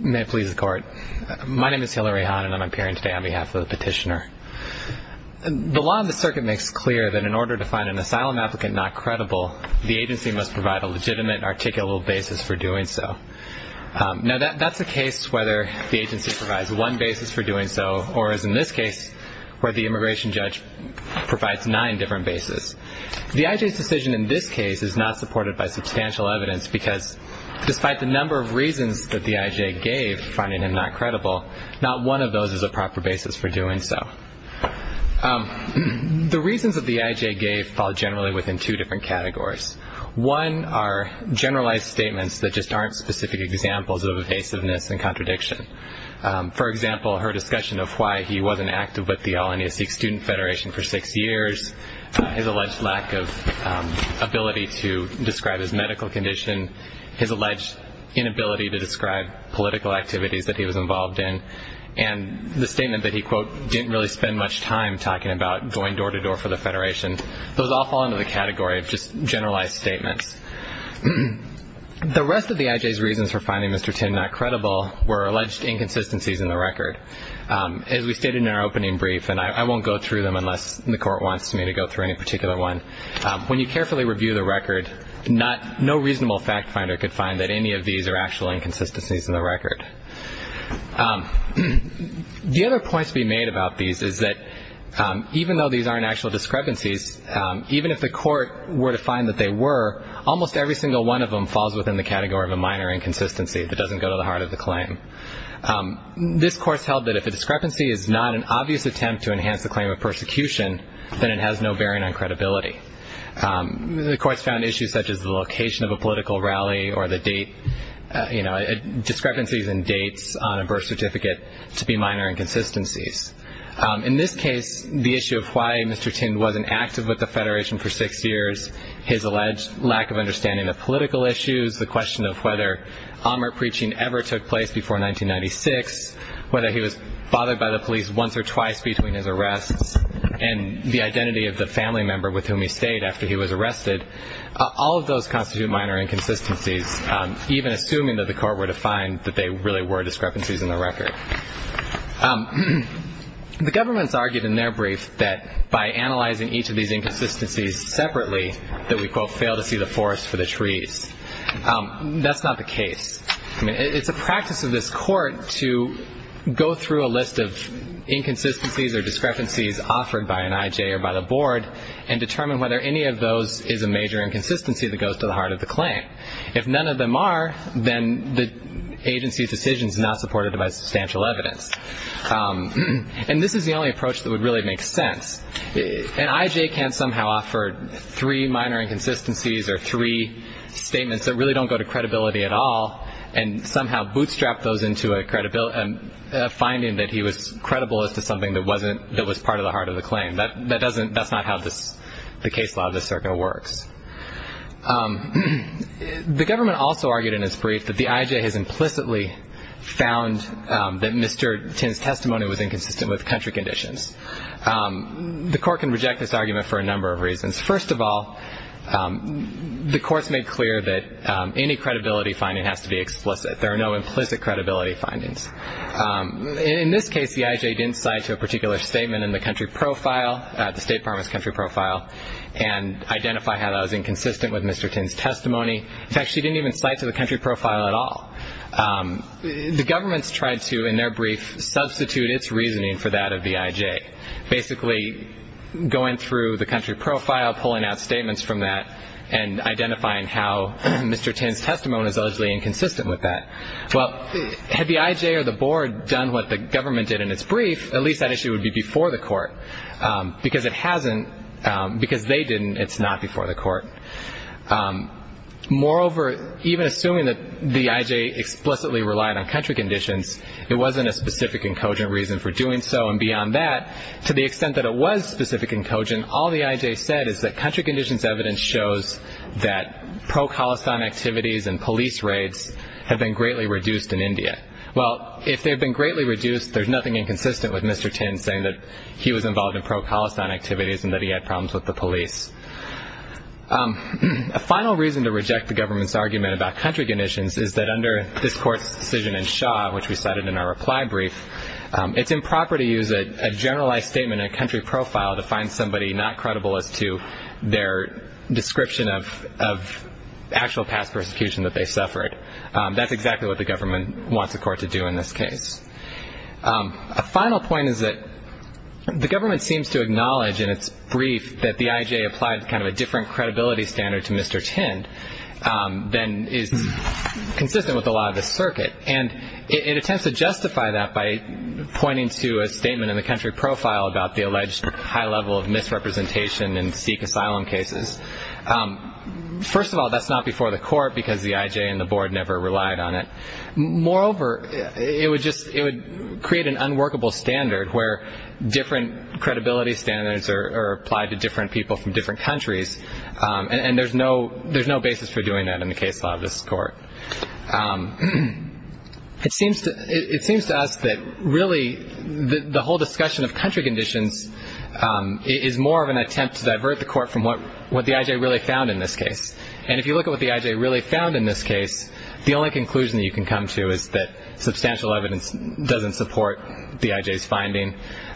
May it please the Court. My name is Hillary Hahn and I'm appearing today on behalf of the petitioner. The law in the circuit makes clear that in order to find an asylum applicant not credible, the agency must provide a legitimate, articulable basis for doing so. Now that's a case whether the agency provides one basis for doing so, or as in this case, where the immigration judge provides nine different bases. The IJ's decision in this case is not supported by substantial evidence because, despite the number of reasons that the IJ gave for finding him not credible, not one of those is a proper basis for doing so. The reasons that the IJ gave fall generally within two different categories. One are generalized statements that just aren't specific examples of evasiveness and contradiction. For example, her discussion of why he wasn't active with the All-India Sikh Student Federation for six years, his alleged lack of ability to describe his medical condition, his alleged inability to describe political activities that he was involved in, and the statement that he, quote, didn't really spend much time talking about going door-to-door for the Federation. Those all fall into the category of just generalized statements. The rest of the IJ's reasons for finding Mr. Tind not credible were alleged inconsistencies in the record. As we stated in our opening brief, and I won't go through them unless the court wants me to go through any particular one, when you carefully review the record, no reasonable fact finder could find that any of these are actual inconsistencies in the record. The other point to be made about these is that even though these aren't actual discrepancies, even if the court were to find that they were, almost every single one of them falls within the category of a minor inconsistency that doesn't go to the heart of the claim. This court held that if a discrepancy is not an obvious attempt to enhance the claim of persecution, then it has no bearing on credibility. The court found issues such as the location of a political rally or the date, you know, discrepancies in dates on a birth certificate to be minor inconsistencies. In this case, the issue of why Mr. Tind wasn't active with the Federation for six years, his alleged lack of understanding of political issues, the question of whether AMR preaching ever took place before 1996, whether he was bothered by the police once or twice between his arrests, and the identity of the family member with whom he stayed after he was arrested, all of those constitute minor inconsistencies, even assuming that the court were to find that they really were discrepancies in the record. The governments argued in their brief that by analyzing each of these inconsistencies separately, that we, quote, fail to see the forest for the trees. That's not the case. I mean, it's a practice of this court to go through a list of inconsistencies or discrepancies offered by an IJ or by the board and determine whether any of those is a major inconsistency that goes to the heart of the claim. If none of them are, then the agency's decision is not supported by substantial evidence. And this is the only approach that would really make sense. An IJ can't somehow offer three minor inconsistencies or three statements that really don't go to credibility at all and somehow bootstrap those into a finding that he was credible as to something that was part of the heart of the claim. That's not how the case law of this circuit works. The government also argued in its brief that the IJ has implicitly found that Mr. Tin's testimony was inconsistent with country conditions. The court can reject this argument for a number of reasons. First of all, the court's made clear that any credibility finding has to be explicit. There are no implicit credibility findings. In this case, the IJ didn't cite to a particular statement in the country profile, the State Department's country profile, and identify how that was inconsistent with Mr. Tin's testimony. In fact, she didn't even cite to the country profile at all. The government's tried to, in their brief, substitute its reasoning for that of the IJ, basically going through the country profile, pulling out statements from that, and identifying how Mr. Tin's testimony was allegedly inconsistent with that. Well, had the IJ or the board done what the government did in its brief, at least that issue would be before the court. Because it hasn't, because they didn't, it's not before the court. Moreover, even assuming that the IJ explicitly relied on country conditions, it wasn't a specific and cogent reason for doing so. And beyond that, to the extent that it was specific and cogent, all the IJ said is that country conditions evidence shows that pro-Khalasan activities and police raids have been greatly reduced in India. Well, if they've been greatly reduced, there's nothing inconsistent with Mr. Tin saying that he was involved in pro-Khalasan activities and that he had problems with the police. A final reason to reject the government's argument about country conditions is that under this court's decision in Shaw, which we cited in our reply brief, it's improper to use a generalized statement in a country profile to find somebody not credible as to their description of actual past persecution that they suffered. That's exactly what the government wants the court to do in this case. A final point is that the government seems to acknowledge in its brief that the IJ applied kind of a different credibility standard to Mr. Tin than is consistent with the law of the circuit, and it attempts to justify that by pointing to a statement in the country profile about the alleged high level of misrepresentation in Sikh asylum cases. First of all, that's not before the court because the IJ and the board never relied on it. Moreover, it would create an unworkable standard where different credibility standards are applied to different people from different countries, and there's no basis for doing that in the case law of this court. It seems to us that really the whole discussion of country conditions is more of an attempt to divert the court from what the IJ really found in this case, and if you look at what the IJ really found in this case, the only conclusion that you can come to is that substantial evidence doesn't support the IJ's finding,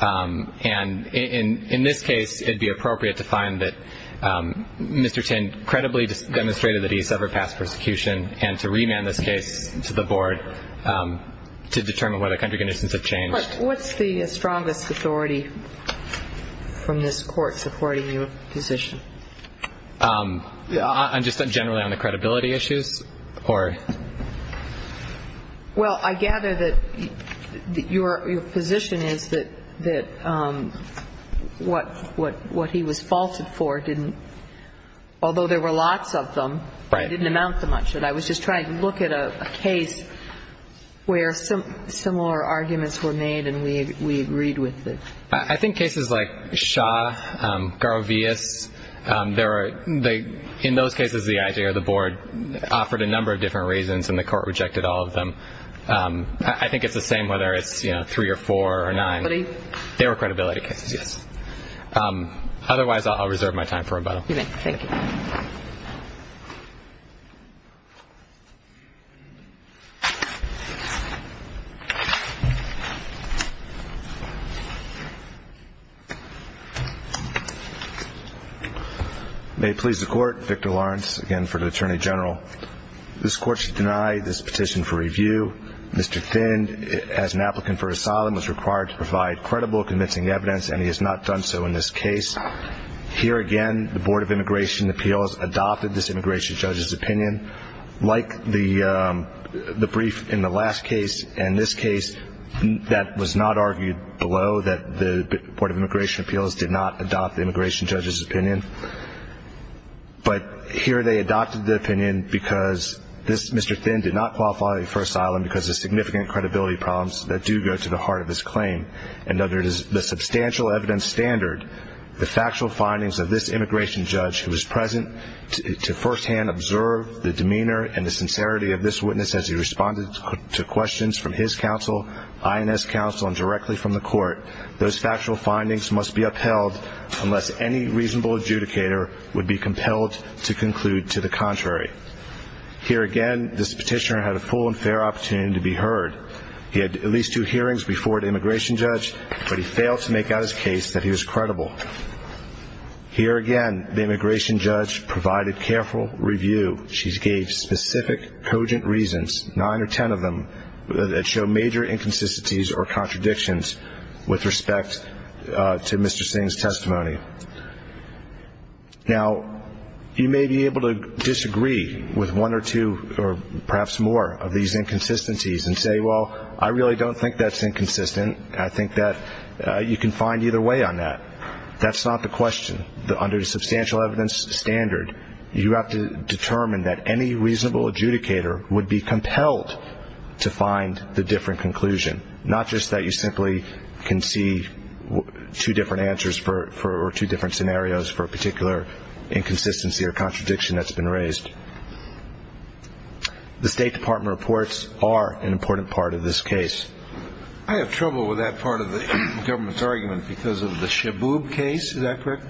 and in this case it would be appropriate to find that Mr. Tin credibly demonstrated that he suffered past persecution and to remand this case to the board to determine whether country conditions have changed. What's the strongest authority from this court supporting your position? Just generally on the credibility issues? Well, I gather that your position is that what he was faulted for didn't, although there were lots of them, it didn't amount to much. I was just trying to look at a case where similar arguments were made and we agreed with it. I think cases like Shaw, Garovias, in those cases the IJ or the board offered a number of different reasons and the court rejected all of them. I think it's the same whether it's three or four or nine. Credibility? They were credibility cases, yes. Otherwise, I'll reserve my time for rebuttal. Thank you. May it please the Court, Victor Lawrence again for the Attorney General. This Court should deny this petition for review. Mr. Tin, as an applicant for asylum, was required to provide credible, convincing evidence, and he has not done so in this case. Here again, the Board of Immigration Appeals adopted this immigration judge's opinion. Like the brief in the last case and this case, that was not argued below that the Board of Immigration Appeals did not adopt the immigration judge's opinion. But here they adopted the opinion because this Mr. Tin did not qualify for asylum because of significant credibility problems that do go to the heart of his claim. And under the substantial evidence standard, the factual findings of this immigration judge who was present to firsthand observe the demeanor and the sincerity of this witness as he responded to questions from his counsel, INS counsel, and directly from the court, those factual findings must be upheld unless any reasonable adjudicator would be compelled to conclude to the contrary. Here again, this petitioner had a full and fair opportunity to be heard. He had at least two hearings before the immigration judge, but he failed to make out his case that he was credible. Here again, the immigration judge provided careful review. She gave specific, cogent reasons, nine or ten of them, that show major inconsistencies or contradictions with respect to Mr. Singh's testimony. Now, you may be able to disagree with one or two or perhaps more of these inconsistencies and say, well, I really don't think that's inconsistent. I think that you can find either way on that. That's not the question. Under the substantial evidence standard, you have to determine that any reasonable adjudicator would be compelled to find the different conclusion, not just that you simply can see two different answers or two different scenarios for a particular inconsistency or contradiction that's been raised. The State Department reports are an important part of this case. I have trouble with that part of the government's argument because of the Shaboob case. Is that correct?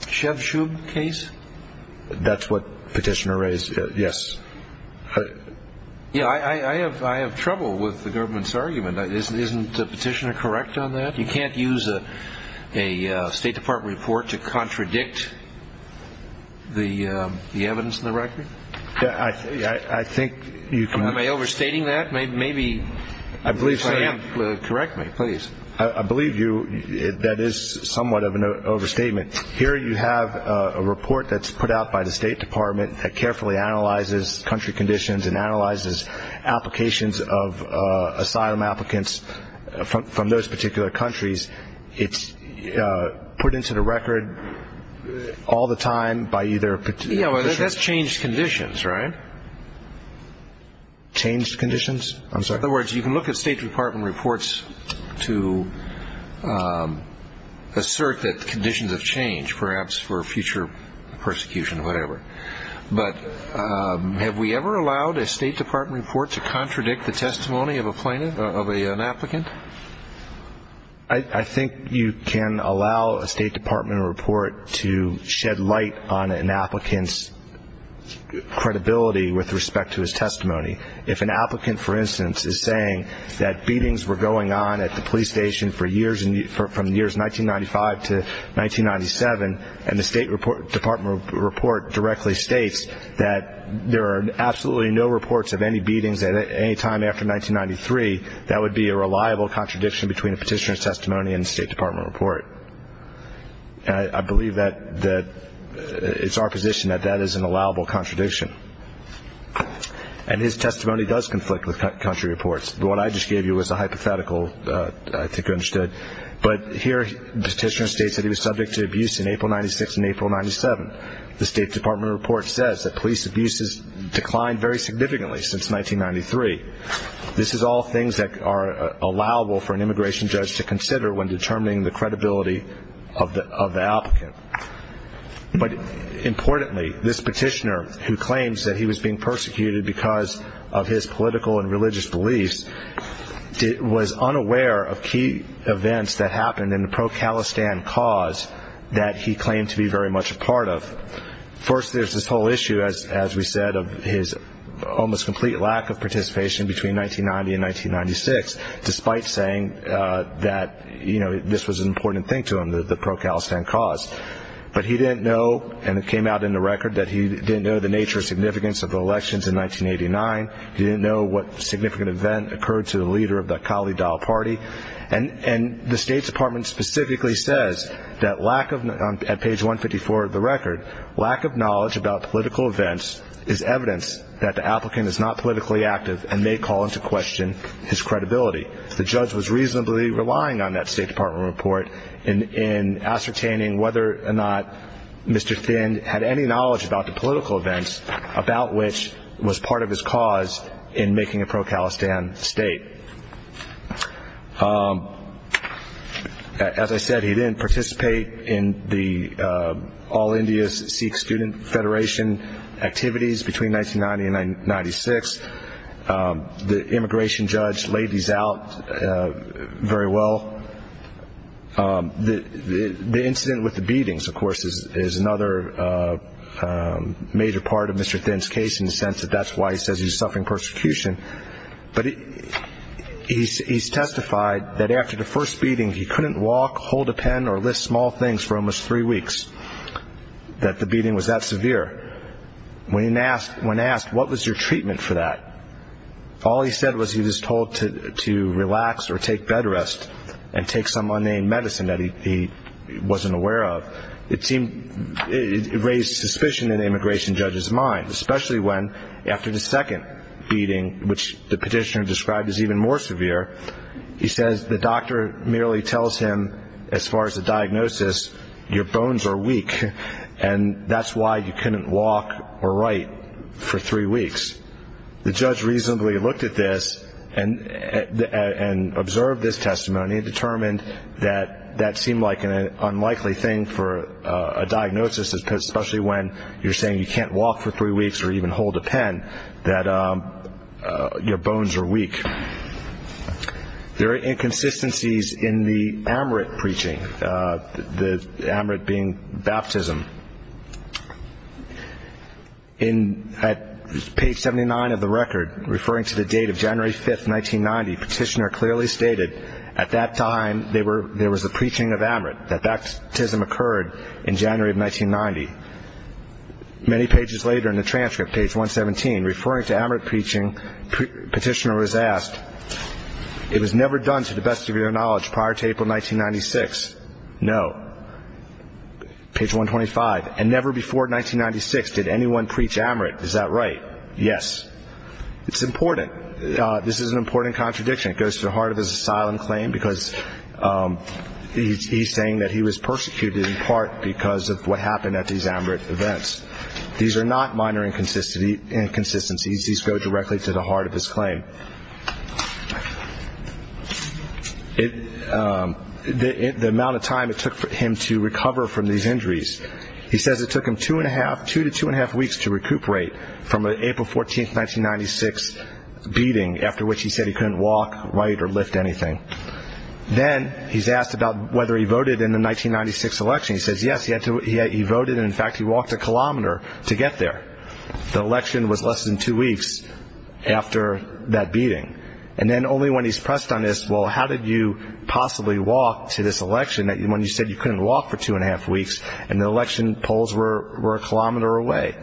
Shevshub case? That's what the petitioner raised, yes. Yeah, I have trouble with the government's argument. Isn't the petitioner correct on that? You can't use a State Department report to contradict the evidence in the record? I think you can. Am I overstating that? Maybe if I am, correct me, please. I believe that is somewhat of an overstatement. Here you have a report that's put out by the State Department that carefully analyzes country conditions and analyzes applications of asylum applicants from those particular countries. It's put into the record all the time by either petitioner or petitioner. That's changed conditions, right? Changed conditions? I'm sorry? In other words, you can look at State Department reports to assert that conditions have changed, perhaps for future persecution or whatever. But have we ever allowed a State Department report to contradict the testimony of an applicant? I think you can allow a State Department report to shed light on an applicant's credibility with respect to his testimony. If an applicant, for instance, is saying that beatings were going on at the police station from the years 1995 to 1997 and the State Department report directly states that there are absolutely no reports of any beatings at any time after 1993, that would be a reliable contradiction between a petitioner's testimony and a State Department report. And I believe that it's our position that that is an allowable contradiction. And his testimony does conflict with country reports. What I just gave you was a hypothetical, I think you understood. But here the petitioner states that he was subject to abuse in April 1996 and April 1997. The State Department report says that police abuse has declined very significantly since 1993. This is all things that are allowable for an immigration judge to consider when determining the credibility of the applicant. But importantly, this petitioner who claims that he was being persecuted because of his political and religious beliefs was unaware of key events that happened in the pro-Khalistan cause that he claimed to be very much a part of. First, there's this whole issue, as we said, of his almost complete lack of participation between 1990 and 1996, despite saying that this was an important thing to him, the pro-Khalistan cause. But he didn't know, and it came out in the record, that he didn't know the nature or significance of the elections in 1989. He didn't know what significant event occurred to the leader of the Khalid al-Party. And the State Department specifically says that at page 154 of the record, lack of knowledge about political events is evidence that the applicant is not politically active and may call into question his credibility. The judge was reasonably relying on that State Department report in ascertaining whether or not Mr. Thind had any knowledge about the political events about which was part of his cause in making a pro-Khalistan state. As I said, he didn't participate in the All India Sikh Student Federation activities between 1990 and 1996. The immigration judge laid these out very well. The incident with the beatings, of course, is another major part of Mr. Thind's case in the sense that that's why he says he's suffering persecution. But he's testified that after the first beating, he couldn't walk, hold a pen, or lift small things for almost three weeks, that the beating was that severe. When asked what was your treatment for that, all he said was he was told to relax or take bed rest and take some unnamed medicine that he wasn't aware of. It raised suspicion in the immigration judge's mind, especially when after the second beating, which the petitioner described as even more severe, he says the doctor merely tells him as far as the diagnosis, your bones are weak, and that's why you couldn't walk or write for three weeks. The judge reasonably looked at this and observed this testimony and determined that that seemed like an unlikely thing for a diagnosis, especially when you're saying you can't walk for three weeks or even hold a pen, that your bones are weak. There are inconsistencies in the Amrit preaching, the Amrit being baptism. At page 79 of the record, referring to the date of January 5, 1990, petitioner clearly stated at that time there was a preaching of Amrit, that baptism occurred in January of 1990. Many pages later in the transcript, page 117, referring to Amrit preaching, petitioner was asked, It was never done, to the best of your knowledge, prior to April 1996. No. Page 125, and never before 1996 did anyone preach Amrit. Is that right? Yes. It's important. This is an important contradiction. It goes to the heart of his asylum claim because he's saying that he was persecuted in part because of what happened at these Amrit events. These are not minor inconsistencies. These go directly to the heart of his claim. The amount of time it took him to recover from these injuries, he says it took him two to two and a half weeks to recuperate from an April 14, 1996, beating, after which he said he couldn't walk, write, or lift anything. Then he's asked about whether he voted in the 1996 election. He says yes, he voted, and in fact he walked a kilometer to get there. The election was less than two weeks after that beating. And then only when he's pressed on this, well, how did you possibly walk to this election when you said you couldn't walk for two and a half weeks, and the election polls were a kilometer away?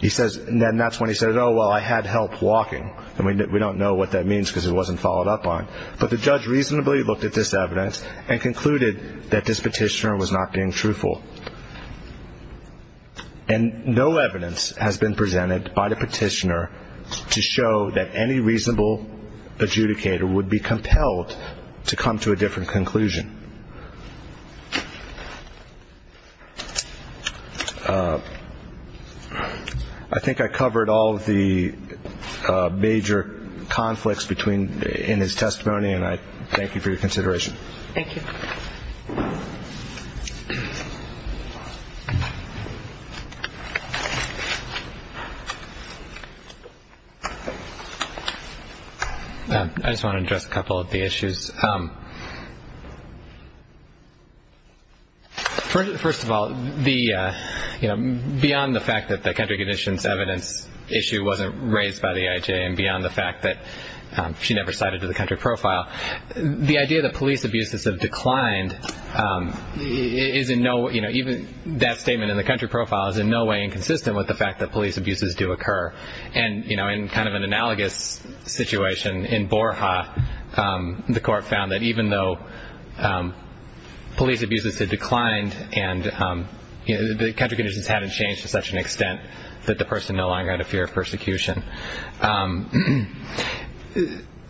Then that's when he says, oh, well, I had help walking. And we don't know what that means because it wasn't followed up on. But the judge reasonably looked at this evidence and concluded that this petitioner was not being truthful. And no evidence has been presented by the petitioner to show that any reasonable adjudicator would be compelled to come to a different conclusion. I think I covered all of the major conflicts in his testimony, and I thank you for your consideration. Thank you. I just want to address a couple of the issues. First of all, beyond the fact that the country conditions evidence issue wasn't raised by the IJ and beyond the fact that she never cited to the country profile, the idea that police abuses have declined, even that statement in the country profile is in no way inconsistent with the fact that police abuses do occur. And in kind of an analogous situation, in Borja, the court found that even though police abuses had declined and the country conditions hadn't changed to such an extent that the person no longer had a fear of persecution.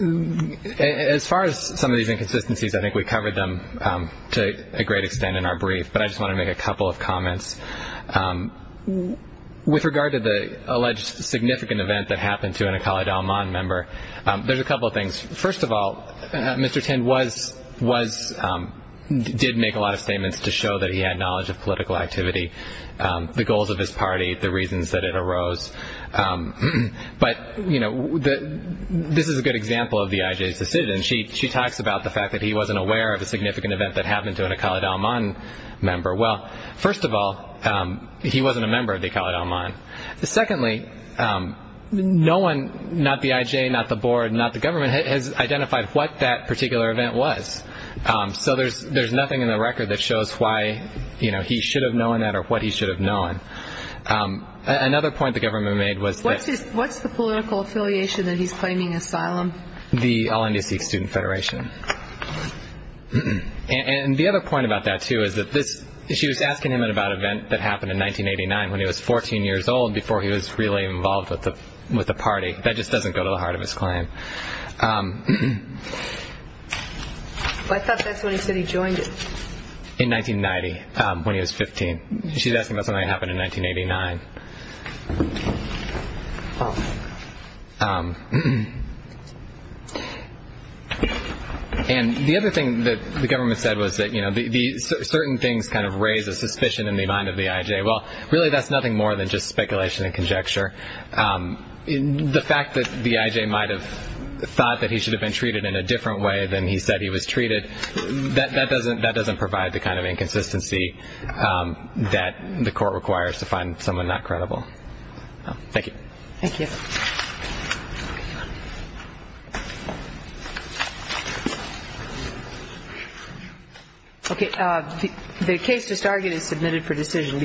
As far as some of these inconsistencies, I think we covered them to a great extent in our brief, but I just want to make a couple of comments. With regard to the alleged significant event that happened to an Akali Dalman member, there's a couple of things. First of all, Mr. Tind did make a lot of statements to show that he had knowledge of political activity, the goals of his party, the reasons that it arose. But this is a good example of the IJ's decision. She talks about the fact that he wasn't aware of a significant event that happened to an Akali Dalman member. Well, first of all, he wasn't a member of the Akali Dalman. Secondly, no one, not the IJ, not the board, not the government, has identified what that particular event was. So there's nothing in the record that shows why he should have known that or what he should have known. Another point the government made was that... What's the political affiliation that he's claiming asylum? The LNDC Student Federation. And the other point about that, too, is that this... She was asking him about an event that happened in 1989, when he was 14 years old, before he was really involved with the party. That just doesn't go to the heart of his claim. I thought that's when he said he joined it. In 1990, when he was 15. She's asking about something that happened in 1989. And the other thing that the government said was that certain things kind of raise a suspicion in the mind of the IJ. Well, really, that's nothing more than just speculation and conjecture. The fact that the IJ might have thought that he should have been treated in a different way than he said he was treated, that doesn't provide the kind of inconsistency that the court requires to find someone not credible. Thank you. Thank you. Okay. The case just argued is submitted for decision.